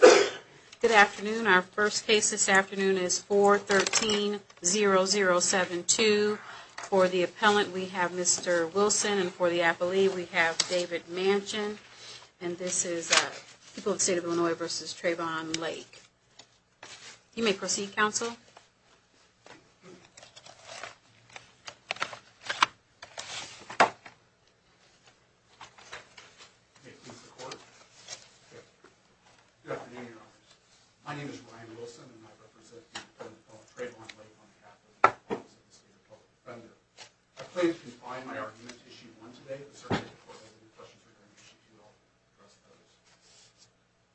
Good afternoon. Our first case this afternoon is 413-0072. For the appellant, we have Mr. Wilson, and for the appellee, we have David Manchin, and this is People of the State of Illinois v. Trayvon Lake. You may proceed, counsel. Good afternoon, Your Honors. My name is Ryan Wilson, and I represent the Appellate Department of Trayvon Lake on behalf of the Appellate Office of the State of Illinois Defender. I pledge to confide my argument to Issue 1 today, but certainly the Court has any questions regarding Issue 2, I'll address those.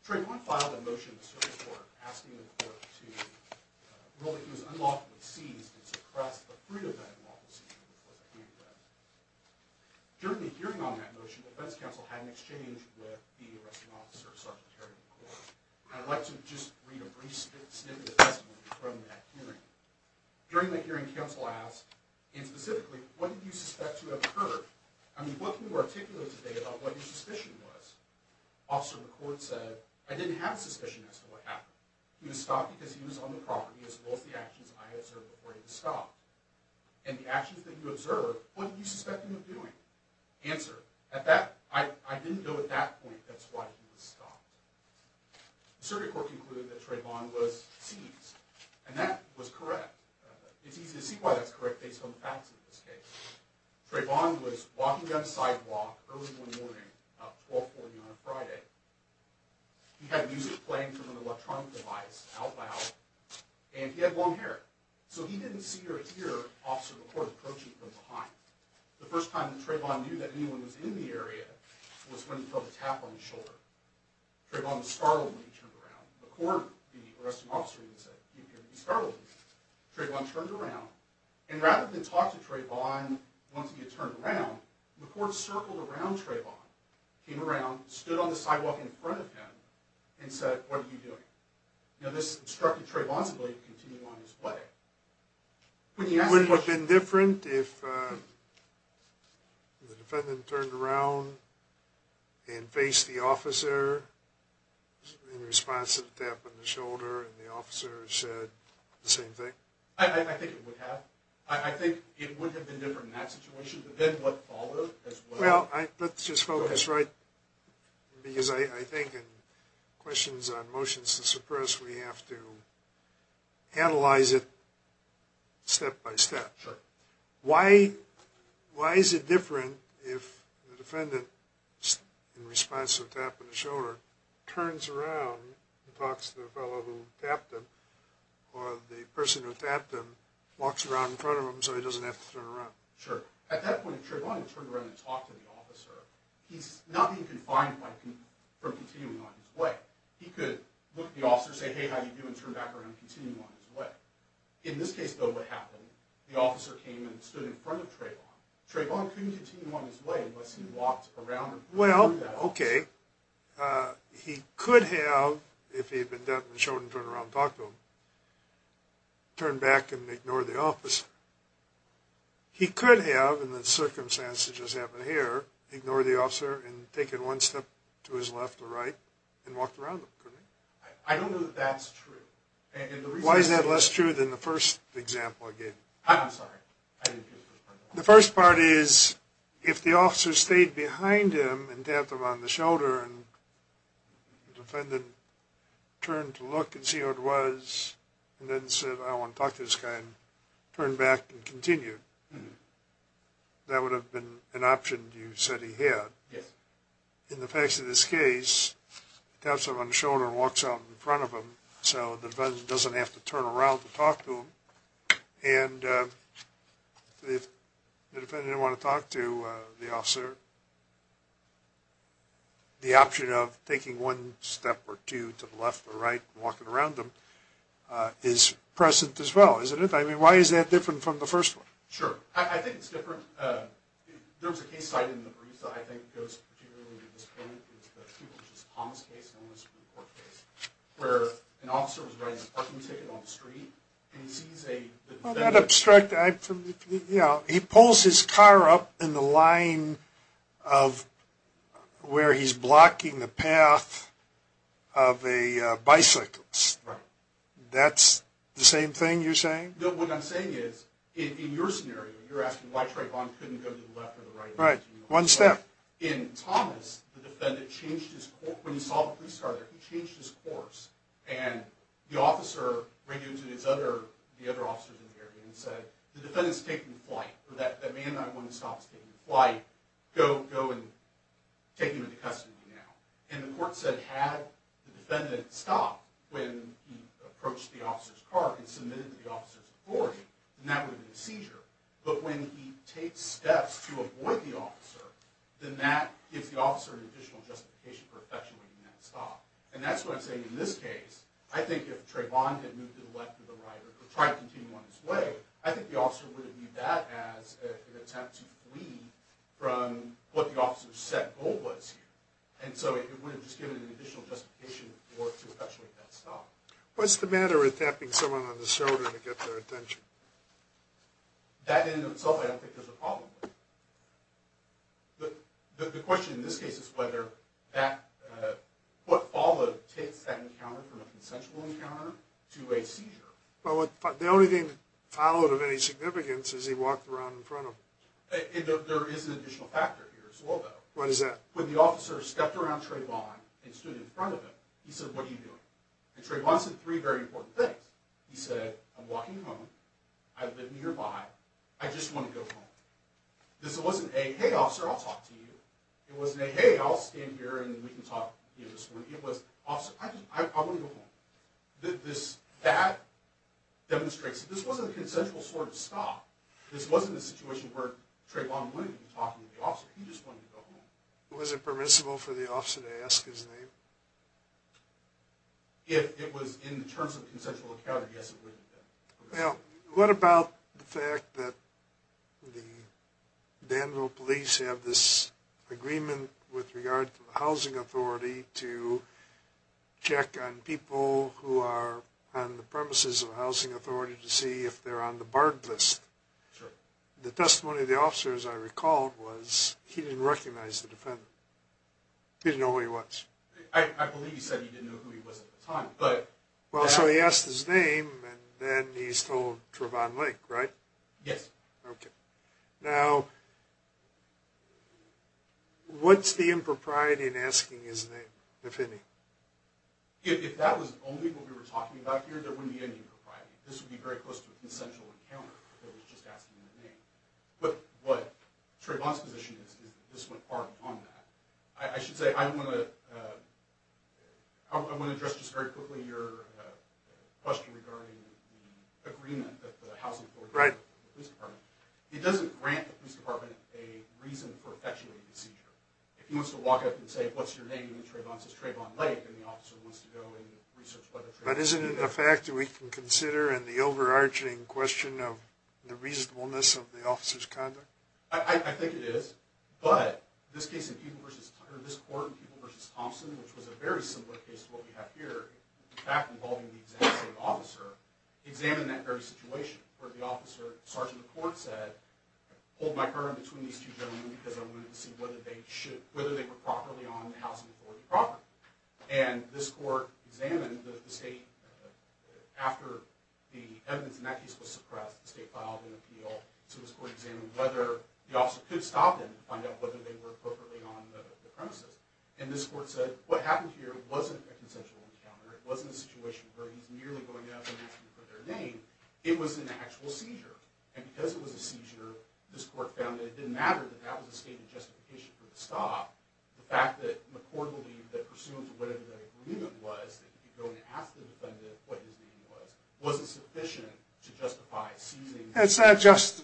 Trayvon filed a motion in the Supreme Court asking the Court to rule that he was unlawfully seized and suppress the fruit of that unlawful seizure, which was a handgun. During the hearing on that motion, the defense counsel had an exchange with the arresting officer, Sgt. Terry McCord. I'd like to just read a brief snippet of testimony from that hearing. During that hearing, counsel asked, and specifically, what did you suspect to have occurred? I mean, what can you articulate today about what your suspicion was? Officer McCord said, I didn't have a suspicion as to what happened. He was stopped because he was on the property, as well as the actions I observed before he was stopped. And the actions that you observed, what did you suspect him of doing? Answer, I didn't know at that point that's why he was stopped. The circuit court concluded that Trayvon was seized, and that was correct. It's easy to see why that's correct based on the facts of this case. Trayvon was walking down the sidewalk early one morning, about 1240 on a Friday. He had music playing from an electronic device out loud, and he had long hair. So he didn't see or hear Officer McCord approaching from behind. The first time that Trayvon knew that anyone was in the area was when he felt a tap on his shoulder. Trayvon was startled when he turned around. McCord, the arresting officer, even said, he appeared to be startled. Trayvon turned around, and rather than talk to Trayvon once he had turned around, McCord circled around Trayvon, came around, stood on the sidewalk in front of him, and said, what are you doing? This instructed Trayvon to continue on his way. Wouldn't it have been different if the defendant turned around and faced the officer in response to the tap on the shoulder, and the officer said the same thing? I think it would have. I think it would have been different in that situation, but then what followed as well. Well, let's just focus right, because I think in questions on motions to suppress, we have to analyze it step by step. Why is it different if the defendant, in response to the tap on the shoulder, turns around and talks to the fellow who tapped him, or the person who tapped him walks around in front of him so he doesn't have to turn around? Sure. At that point, if Trayvon had turned around and talked to the officer, he's not being confined from continuing on his way. He could look at the officer and say, hey, how are you doing, and turn around and continue on his way. In this case, though, what happened, the officer came and stood in front of Trayvon. Trayvon couldn't continue on his way unless he walked around. Well, okay. He could have, if he had been tapped on the shoulder and turned around and talked to him, turned back and ignored the officer. He could have, in the circumstances that just happened here, ignored the officer and taken one step to his left or right and walked around him, couldn't he? I don't know that that's true. Why is that less true than the first example I gave you? I'm sorry. I didn't hear the first part of that. The first part is, if the officer stayed behind him and tapped him on the shoulder and the defendant turned to look and see who it was and then said, I don't want to talk to this guy, and turned back and continued, that would have been an option you said he had. Yes. In the facts of this case, he taps him on the shoulder and walks out in front of him, so the defendant doesn't have to turn around to talk to him. And if the defendant didn't want to talk to the officer, the option of taking one step or two to the left or right and walking around him is present as well, isn't it? I mean, why is that different from the first one? Sure. I think it's different. There was a case cited in the Barista, I think goes particularly to this point, which is the Thomas case, known as the court case, where an officer was riding a parking ticket on the street and he sees a defendant... That's the same thing you're saying? No, what I'm saying is, in your scenario, you're asking why Trayvon couldn't go to the left or the right. Right. One step. In Thomas, the defendant changed his course. When he saw the police car there, he changed his course. And the officer ran into the other officers in the area and said, the defendant's taking flight. That man I want to stop is taking flight. Go and take him into custody now. And the court said, had the defendant stopped when he approached the officer's car and submitted to the officer's authority, then that would have been a seizure. But when he takes steps to avoid the officer, then that gives the officer an additional justification for effectuating that stop. And that's what I'm saying in this case. I think if Trayvon had moved to the left or the right or tried to continue on his way, I think the officer would have viewed that as an attempt to flee from what the officer's set goal was here. And so it would have just given him an additional justification to effectuate that stop. What's the matter with tapping someone on the shoulder to get their attention? That in and of itself, I don't think there's a problem with it. The question in this case is whether what followed takes that encounter from a consensual encounter to a seizure. Well, the only thing that followed of any significance is he walked around in front of them. There is an additional factor here as well, though. What is that? When the officer stepped around Trayvon and stood in front of him, he said, what are you doing? And Trayvon said three very important things. He said, I'm walking home, I live nearby, I just want to go home. This wasn't a, hey, officer, I'll talk to you. It wasn't a, hey, I'll stand here and we can talk this morning. It was, officer, I want to go home. That demonstrates that this wasn't a consensual sort of stop. This wasn't a situation where Trayvon wanted to be talking to the officer. He just wanted to go home. Was it permissible for the officer to ask his name? If it was in the terms of a consensual encounter, yes, it was. What about the fact that the Danville police have this agreement with regard to the housing authority to check on people who are on the premises of the housing authority to see if they're on the barred list? Sure. The testimony of the officer, as I recall, was he didn't recognize the defendant. He didn't know who he was. I believe he said he didn't know who he was at the time. Well, so he asked his name and then he's told Trayvon Lake, right? Yes. Now, what's the impropriety in asking his name, if any? If that was only what we were talking about here, there wouldn't be any impropriety. This would be very close to a consensual encounter where he was just asking his name. But Trayvon's position is that this went far beyond that. I should say, I want to address just very quickly your question regarding the agreement with the housing authority and the police department. It doesn't grant the police department a reason for effectuating the seizure. If he wants to walk up and say, what's your name? And Trayvon says, Trayvon Lake. And the officer wants to go and research whether Trayvon is there. But isn't it a fact that we can consider in the overarching question of the reasonableness of the officer's conduct? I think it is. But this case in Peeble v. Thompson, or this court in Peeble v. Thompson, which was a very similar case to what we have here, in fact involving the executive state officer, examined that very situation where the officer, sergeant of court, said, hold my guard between these two gentlemen because I wanted to see whether they were properly on the housing authority property. And this court examined the state, after the evidence in that case was suppressed, the state filed an appeal, so this court examined whether the officer could stop them to find out whether they were appropriately on the premises. And this court said, what happened here wasn't a consensual encounter. It wasn't a situation where he's merely going out and asking for their name. It was an actual seizure. And because it was a seizure, this court found that it didn't matter, that that was a stated justification for the stop. The fact that the court believed that pursuant to whatever the agreement was, that he could go and ask the defendant what his name was, wasn't sufficient to justify seizing. It's not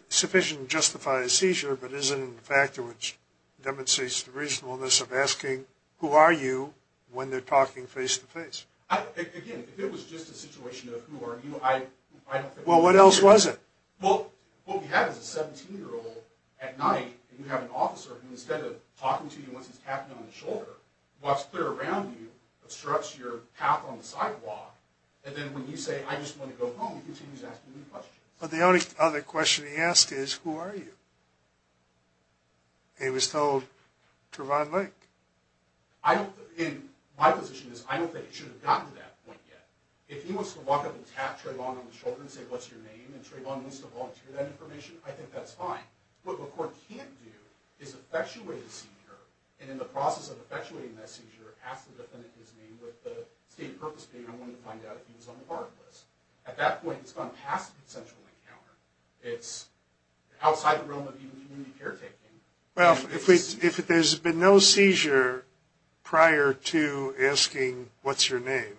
sufficient to justify a seizure, but isn't a factor which demonstrates the reasonableness of asking, who are you, when they're talking face-to-face. Again, if it was just a situation of who are you, I don't think... Well, what else was it? Well, what we have is a 17-year-old at night, and you have an officer who, instead of talking to you once he's tapped you on the shoulder, walks clear around you, obstructs your path on the sidewalk, and then when you say, I just want to go home, he continues asking you questions. But the only other question he asked is, who are you? And he was told, Trevon Lake. In my position, I don't think it should have gotten to that point yet. If he wants to walk up and tap Trevon on the shoulder and say, what's your name, and Trevon wants to volunteer that information, I think that's fine. What the court can't do is effectuate a seizure, and in the process of effectuating that seizure, ask the defendant his name with the stated purpose being, I want to find out if he was on the hard list. At that point, it's gone past an essential encounter. It's outside the realm of even community caretaking. Well, if there's been no seizure prior to asking, what's your name,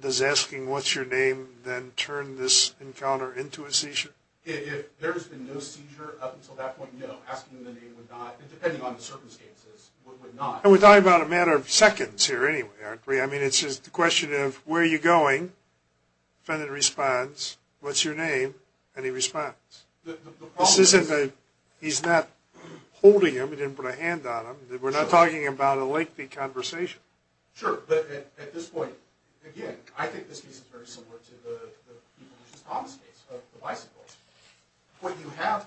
does asking what's your name then turn this encounter into a seizure? If there's been no seizure up until that point, no. Asking the name would not, depending on the circumstances, would not. And we're talking about a matter of seconds here anyway, aren't we? I mean, it's just the question of, where are you going? Defendant responds, what's your name? And he responds. This isn't that he's not holding him. He didn't put a hand on him. We're not talking about a lengthy conversation. Sure, but at this point, again, I think this case is very similar to the Thomas case, the bicycle. What you have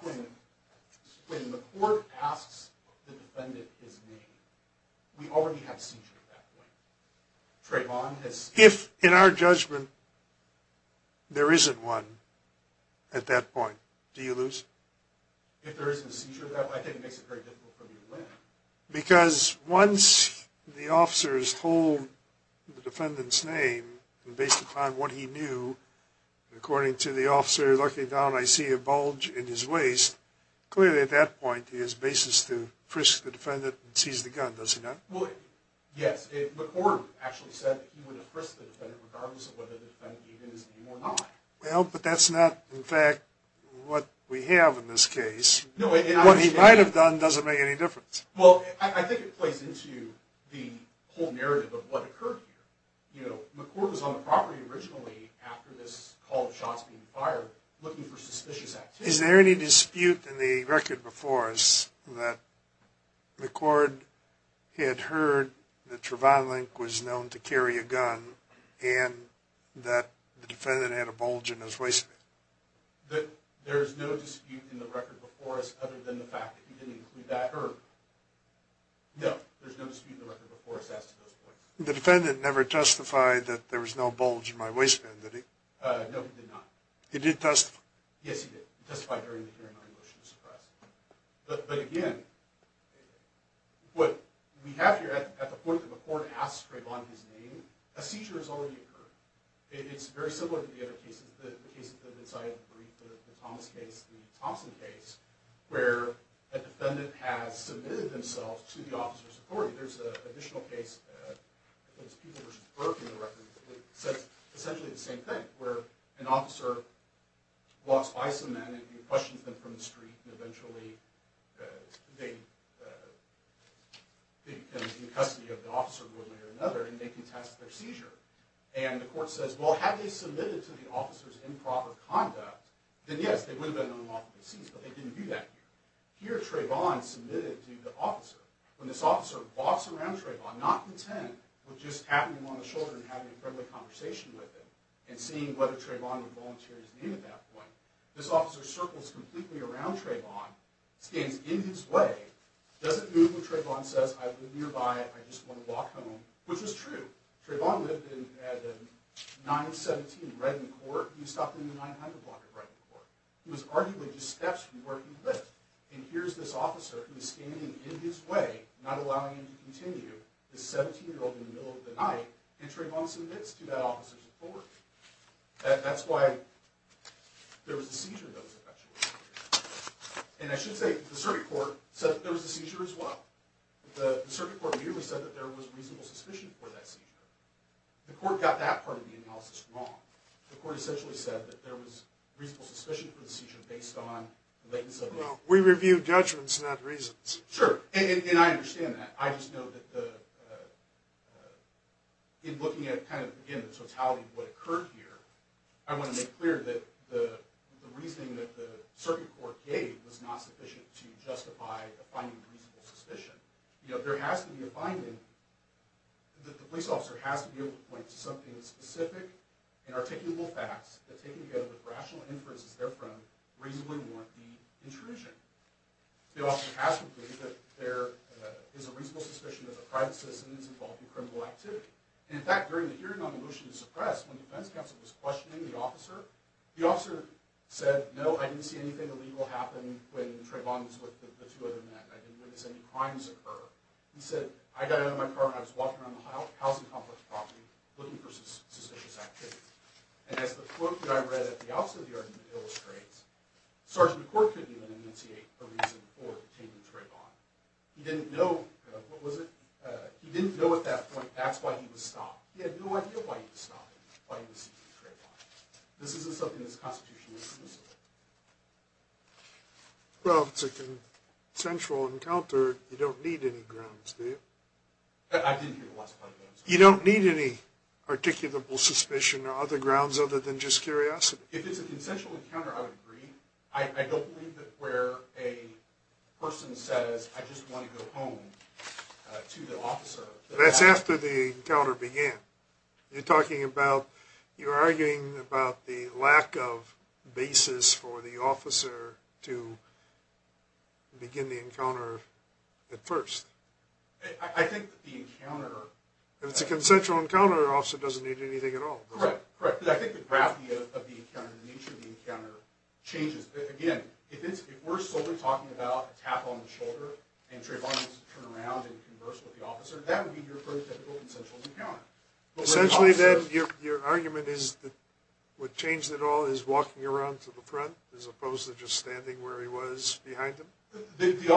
when the court asks the defendant his name, we already have a seizure at that point. If, in our judgment, there isn't one at that point, do you lose? If there isn't a seizure at that point, I think it makes it very difficult for me to win. Because once the officers hold the defendant's name, based upon what he knew, according to the officer looking down, I see a bulge in his waist. Clearly, at that point, he has basis to frisk the defendant and seize the gun, does he not? Well, yes. McCord actually said that he would have frisked the defendant regardless of whether the defendant gave him his name or not. Well, but that's not, in fact, what we have in this case. No, and I understand that. What he might have done doesn't make any difference. Well, I think it plays into the whole narrative of what occurred here. You know, McCord was on the property originally after this call of shots being fired looking for suspicious activity. Is there any dispute in the record before us that McCord had heard that Trevon Link was known to carry a gun and that the defendant had a bulge in his waistband? There is no dispute in the record before us, other than the fact that he didn't include that herb. No, there's no dispute in the record before us as to those points. The defendant never testified that there was no bulge in my waistband, did he? No, he did not. He did testify? Yes, he did testify during the hearing on a motion to suppress. But, again, what we have here, at the point that McCord asks Trevon his name, a seizure has already occurred. It's very similar to the other cases, the cases that have been cited in the brief, the Thomas case, the Thompson case, where a defendant has submitted themselves to the officer's authority. There's an additional case, I think it's Peoples v. Burke in the record, that says essentially the same thing, where an officer walks by some men and he questions them from the street and eventually they become in custody of the officer one way or another and they contest their seizure. And the court says, well, had they submitted to the officer's improper conduct, then, yes, they would have been unlawfully deceased, but they didn't do that here. Here, Trevon submitted to the officer. When this officer walks around Trevon, not content with just patting him on the shoulder and having a friendly conversation with him and seeing whether Trevon would volunteer his name at that point, this officer circles completely around Trevon, stands in his way, doesn't move when Trevon says, I live nearby, I just want to walk home, which is true. Trevon lived at 917 Redmond Court. He stopped in the 900 block at Redmond Court. He was arguably just steps from where he lived. And here's this officer who's standing in his way, not allowing him to continue, this 17-year-old in the middle of the night, and Trevon submits to that officer's authority. That's why there was a seizure that was effectuated here. And I should say the circuit court said that there was a seizure as well. The circuit court immediately said that there was reasonable suspicion for that seizure. The court got that part of the analysis wrong. The court essentially said that there was reasonable suspicion for the seizure based on the latency of the hearing. Well, we review judgments, not reasons. Sure, and I understand that. I just know that in looking at the totality of what occurred here, I want to make clear that the reasoning that the circuit court gave was not sufficient to justify a finding of reasonable suspicion. There has to be a finding that the police officer has to be able to point to something specific and articulable facts that, taken together with rational inferences therefrom, reasonably warrant the intrusion. The officer has to believe that there is a reasonable suspicion that a private citizen is involved in criminal activity. And in fact, during the hearing on the motion to suppress, when the defense counsel was questioning the officer, the officer said, no, I didn't see anything illegal happen when Trevon was with the two other men. I didn't witness any crimes occur. He said, I got out of my car and I was walking around the housing complex looking for suspicious activity. And as the quote that I read at the outset of the argument illustrates, Sergeant McCourt couldn't even enunciate a reason for detaining Trevon. He didn't know, what was it? He didn't know at that point that's why he was stopped. He had no idea why he was stopped, why he was seeking Trevon. This isn't something that's constitutionally permissible. Well, it's a consensual encounter. You don't need any grounds, do you? I didn't hear the last part of that. You don't need any articulable suspicion or other grounds other than just curiosity? If it's a consensual encounter, I would agree. I don't believe that where a person says, I just want to go home to the officer. That's after the encounter began. You're arguing about the lack of basis for the officer to begin the encounter at first. I think that the encounter… If it's a consensual encounter, the officer doesn't need anything at all. Correct. I think the gravity of the encounter, the nature of the encounter changes. Again, if we're solely talking about a tap on the shoulder, and Trevon needs to turn around and converse with the officer, that would be your very typical consensual encounter. Essentially, then, your argument is that what changed it all is walking around to the front, as opposed to just standing where he was behind him? It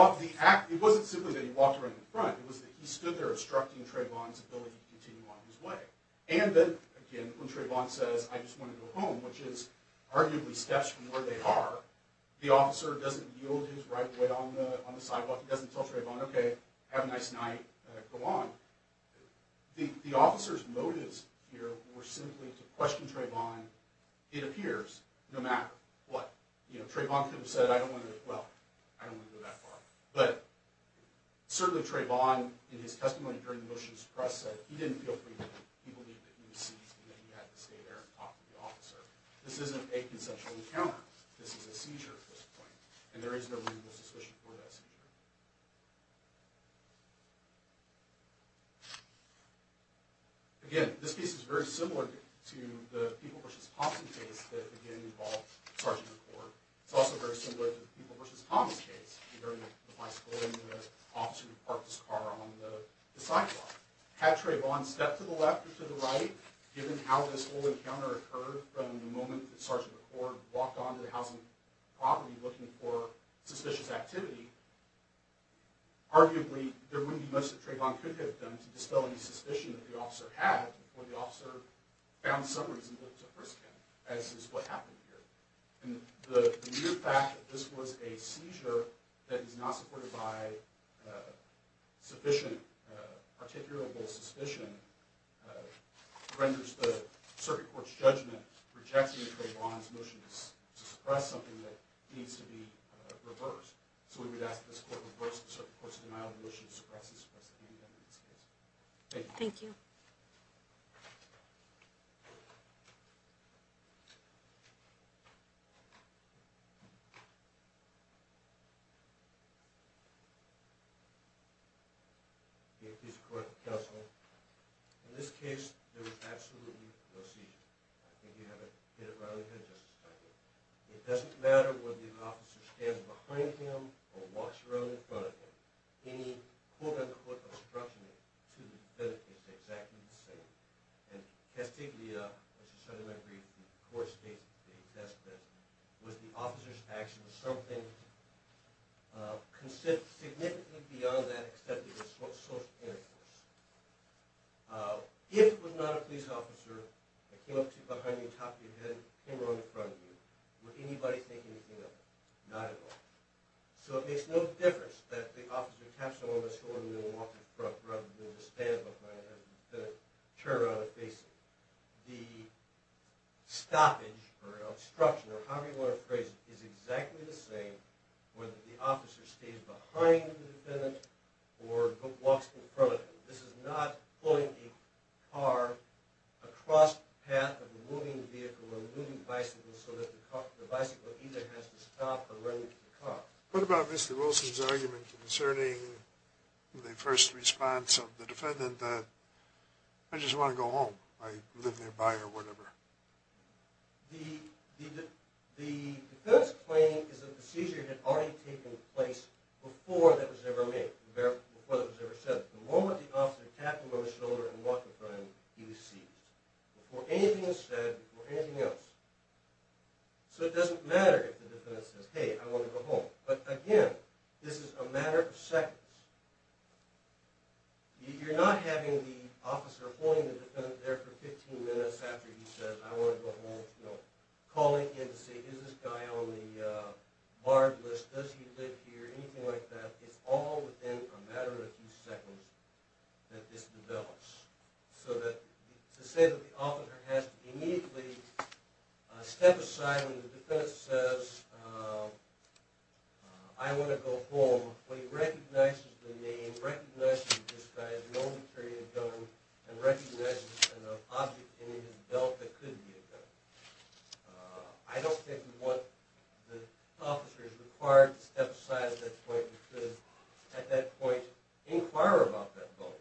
wasn't simply that he walked around to the front. It was that he stood there obstructing Trevon's ability to continue on his way. And then, again, when Trevon says, I just want to go home, which is arguably steps from where they are, the officer doesn't yield his right foot on the sidewalk. He doesn't tell Trevon, okay, have a nice night, go on. The officer's motives here were simply to question Trevon, it appears, no matter what. Trevon could have said, I don't want to… well, I don't want to go that far. But certainly Trevon, in his testimony during the motions to press, said he didn't feel free to leave. He believed that he was seized and that he had to stay there and talk to the officer. This isn't a consensual encounter. This is a seizure at this point, and there is no reasonable suspicion for that seizure. Again, this case is very similar to the Peeble v. Thompson case that, again, involved Sgt. McCord. It's also very similar to the Peeble v. Thomas case, regarding the bicycle and the officer who parked his car on the sidewalk. Had Trevon stepped to the left or to the right, given how this whole encounter occurred from the moment that Sgt. McCord walked onto the housing property looking for suspicious activity, arguably there wouldn't be much that Trevon could have done to dispel any suspicion that the officer had before the officer found some reason to frisk him, as is what happened here. The mere fact that this was a seizure that is not supported by sufficient articulable suspicion renders the circuit court's judgment rejecting Trevon's motion to suppress something that needs to be reversed. So we would ask that this court reverse the circuit court's denial of the motion to suppress this case. Thank you. Thank you. Thank you. In this case, there was absolutely no seizure. I think you hit it right on the head, Justice Feiglin. It doesn't matter whether the officer stands behind him or walks around in front of him. Any quote-unquote obstruction to the defendant is exactly the same. And testiglia, which is another way to read the court's statement, was the officer's action was something significantly beyond that extent of social interference. If it was not a police officer that came up to you behind you and tapped your head and came around in front of you, would anybody think anything of it? Not at all. So it makes no difference that the officer taps you on the shoulder and walks in front of you and you stand behind him to turn around and face him. The stoppage or obstruction or however you want to phrase it is exactly the same whether the officer stays behind the defendant or walks in front of him. This is not pulling a car across the path of a moving vehicle or a moving bicycle so that the bicycle either has to stop or run into the car. What about Mr. Wilson's argument concerning the first response of the defendant that, I just want to go home, I live nearby or whatever? The defendant's claim is that the seizure had already taken place before that was ever made, before that was ever said. The moment the officer tapped him on the shoulder and walked in front of him, he was seized. Before anything is said, before anything else. So it doesn't matter if the defendant says, hey, I want to go home. But again, this is a matter of seconds. You're not having the officer holding the defendant there for 15 minutes after he says, I want to go home, calling in to say, is this guy on the bar list, does he live here, anything like that. It's all within a matter of a few seconds that this develops. To say that the officer has to immediately step aside when the defendant says, I want to go home, when he recognizes the name, recognizes that this guy has no material gun, and recognizes an object in his belt that could be a gun. I don't think the officer is required to step aside at that point because at that point, inquire about that bonus.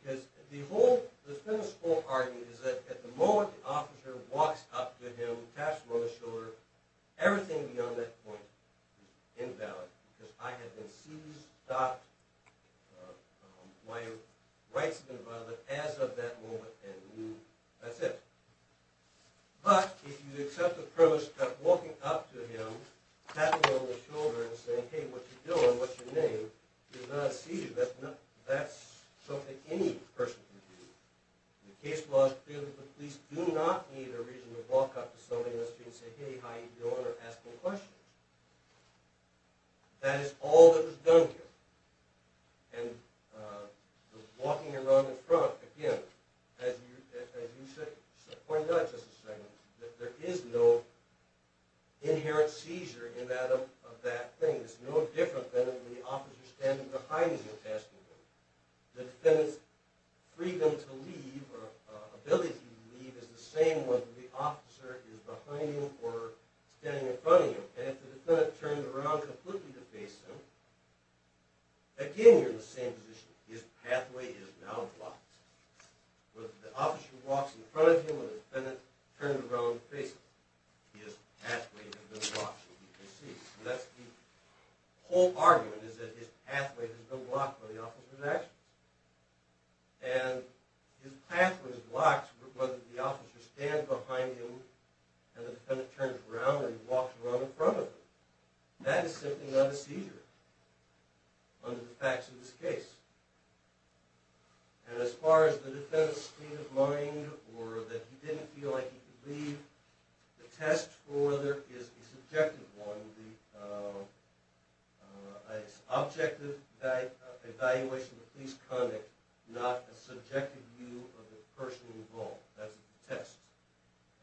Because the whole, the defendant's whole argument is that at the moment the officer walks up to him, taps him on the shoulder, everything beyond that point is invalid. Because I have been seized, stopped, my rights have been violated as of that moment, and that's it. But if you accept the premise that walking up to him, tapping him on the shoulder, and saying, hey, what you doing, what's your name, you're not seized, that's something any person can do. The case law is clear that the police do not need a reason to walk up to somebody on the street and say, hey, how you doing, or ask any questions. That is all that was done here. And walking around in front, again, as you pointed out just a second ago, that there is no inherent seizure in that thing. It's no different than when the officer is standing behind you and asking you. The defendant's freedom to leave or ability to leave is the same when the officer is behind you or standing in front of you. And if the defendant turns around completely to face him, again, you're in the same position. His pathway is now blocked. Whether the officer walks in front of him or the defendant turns around to face him, his pathway has been blocked, as you can see. So that's the whole argument, is that his pathway has been blocked by the officer's actions. And his pathway is blocked whether the officer stands behind him and the defendant turns around and walks around in front of him. That is simply not a seizure under the facts of this case. And as far as the defendant's state of mind or that he didn't feel like he could leave, the test for whether it is a subjective one would be an objective evaluation of police conduct, not a subjective view of the person involved. That's the test.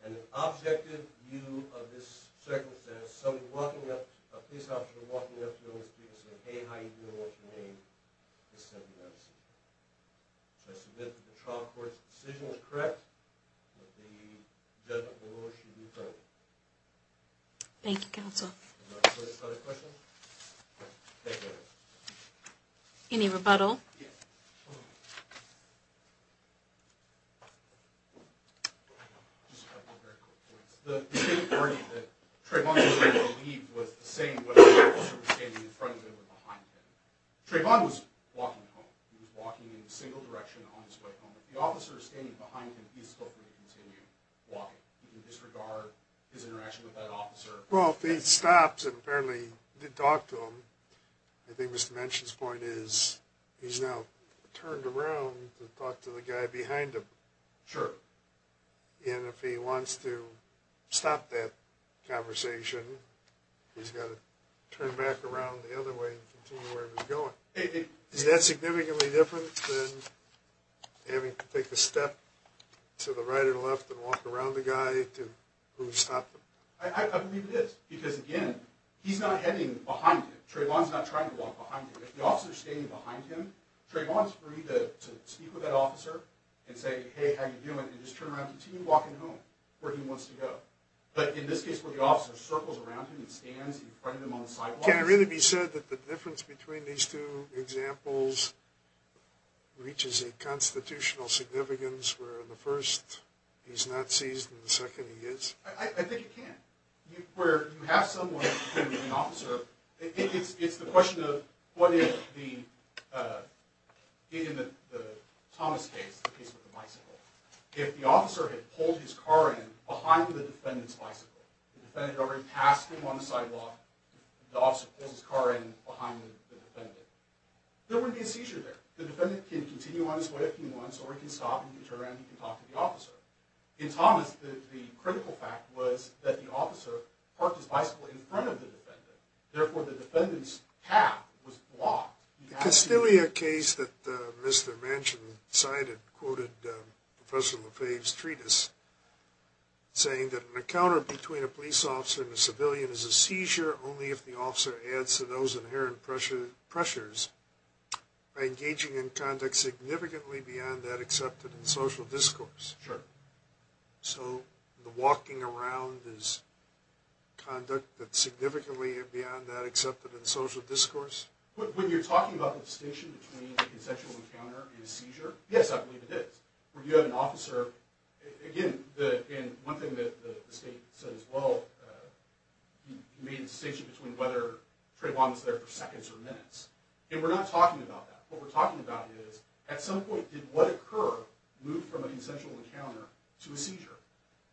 And an objective view of this circumstance, somebody walking up, a police officer walking up to him and speaking, saying, hey, how you doing, what's your name, is simply not a seizure. So I submit that the trial court's decision is correct, but the judgment below should be heard. Thank you, counsel. Any other questions? Thank you. Any rebuttal? Just a couple of very quick points. The statement earlier that Trayvon was able to leave was the same whether the officer was standing in front of him or behind him. Trayvon was walking home. He was walking in a single direction on his way home. If the officer is standing behind him, he is still free to continue walking. You can disregard his interaction with that officer. Well, if he had stopped and apparently did talk to him, I think Mr. Manchin's point is he's now turned around to talk to the guy behind him. Sure. And if he wants to stop that conversation, he's got to turn back around the other way and continue where he was going. Is that significantly different than having to take a step to the right or the left and walk around the guy who stopped him? I believe it is because, again, he's not heading behind him. Trayvon's not trying to walk behind him. If the officer is standing behind him, Trayvon is free to speak with that officer and say, hey, how are you doing, and just turn around and continue walking home where he wants to go. But in this case where the officer circles around him and stands in front of him on the sidewalk… Can it really be said that the difference between these two examples reaches a constitutional significance where in the first he's not seized and in the second he is? I think it can. It's the question of what if in the Thomas case, the case with the bicycle, if the officer had pulled his car in behind the defendant's bicycle, the defendant had already passed him on the sidewalk, the officer pulls his car in behind the defendant, there wouldn't be a seizure there. The defendant can continue on his way if he wants or he can stop and turn around and talk to the officer. In Thomas, the critical fact was that the officer parked his bicycle in front of the defendant. Therefore, the defendant's path was blocked. The Castilia case that Mr. Manchin cited quoted Professor Lefebvre's treatise saying that an encounter between a police officer and a civilian is a seizure only if the officer adds to those inherent pressures by engaging in conduct significantly beyond that accepted in social discourse. Sure. So the walking around is conduct that's significantly beyond that accepted in social discourse? When you're talking about the distinction between a consensual encounter and a seizure, yes, I believe it is. When you have an officer, again, one thing that the state said as well, you made the distinction between whether Trayvon was there for seconds or minutes. And we're not talking about that. What we're talking about is, at some point, did what occurred move from a consensual encounter to a seizure?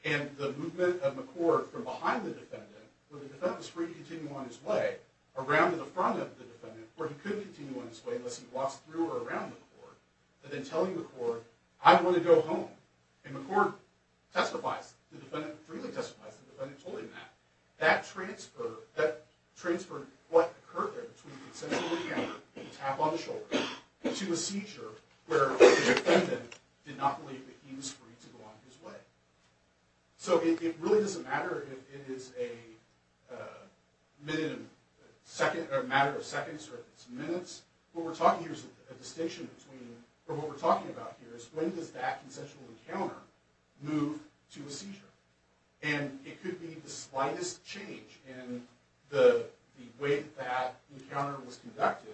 And the movement of McCord from behind the defendant, where the defendant was free to continue on his way, around to the front of the defendant, where he couldn't continue on his way unless he walks through or around McCord, and then telling McCord, I'm going to go home. And McCord testifies, the defendant freely testifies, the defendant told him that. That transferred what occurred there between a consensual encounter, a tap on the shoulder, to a seizure where the defendant did not believe that he was free to go on his way. So it really doesn't matter if it is a matter of seconds or if it's minutes. What we're talking here is a distinction between, or what we're talking about here is, when does that consensual encounter move to a seizure? And it could be the slightest change in the way that that encounter was conducted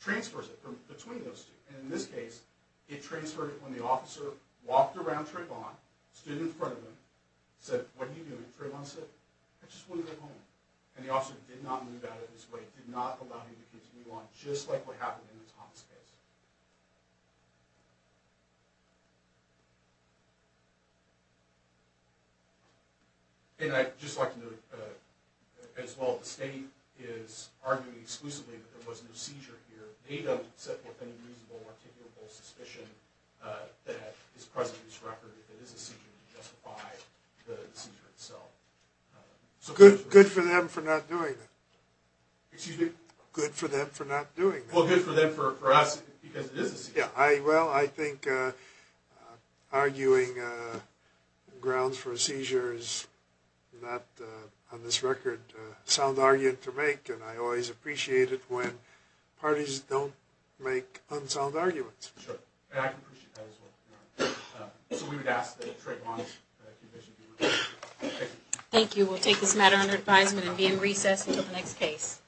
transfers it between those two. And in this case, it transferred it when the officer walked around Trayvon, stood in front of him, said, what are you doing? Trayvon said, I just want to go home. And the officer did not move out of his way, did not allow him to continue on, just like what happened in the Thomas case. And I'd just like to note, as well, the state is arguing exclusively that there was no seizure here. They don't set forth any reasonable or articulable suspicion that is present in this record that it is a seizure to justify the seizure itself. Good for them for not doing that. Excuse me? Good for them for not doing that. Well, good for them, for us, because it is a seizure. Well, I think arguing grounds for a seizure is not, on this record, a sound argument to make. And I always appreciate it when parties don't make unsound arguments. Sure. And I can appreciate that, as well. So we would ask that Trayvon's accusation be reviewed. Thank you. Thank you. We'll take this matter under advisement and be in recess until the next case.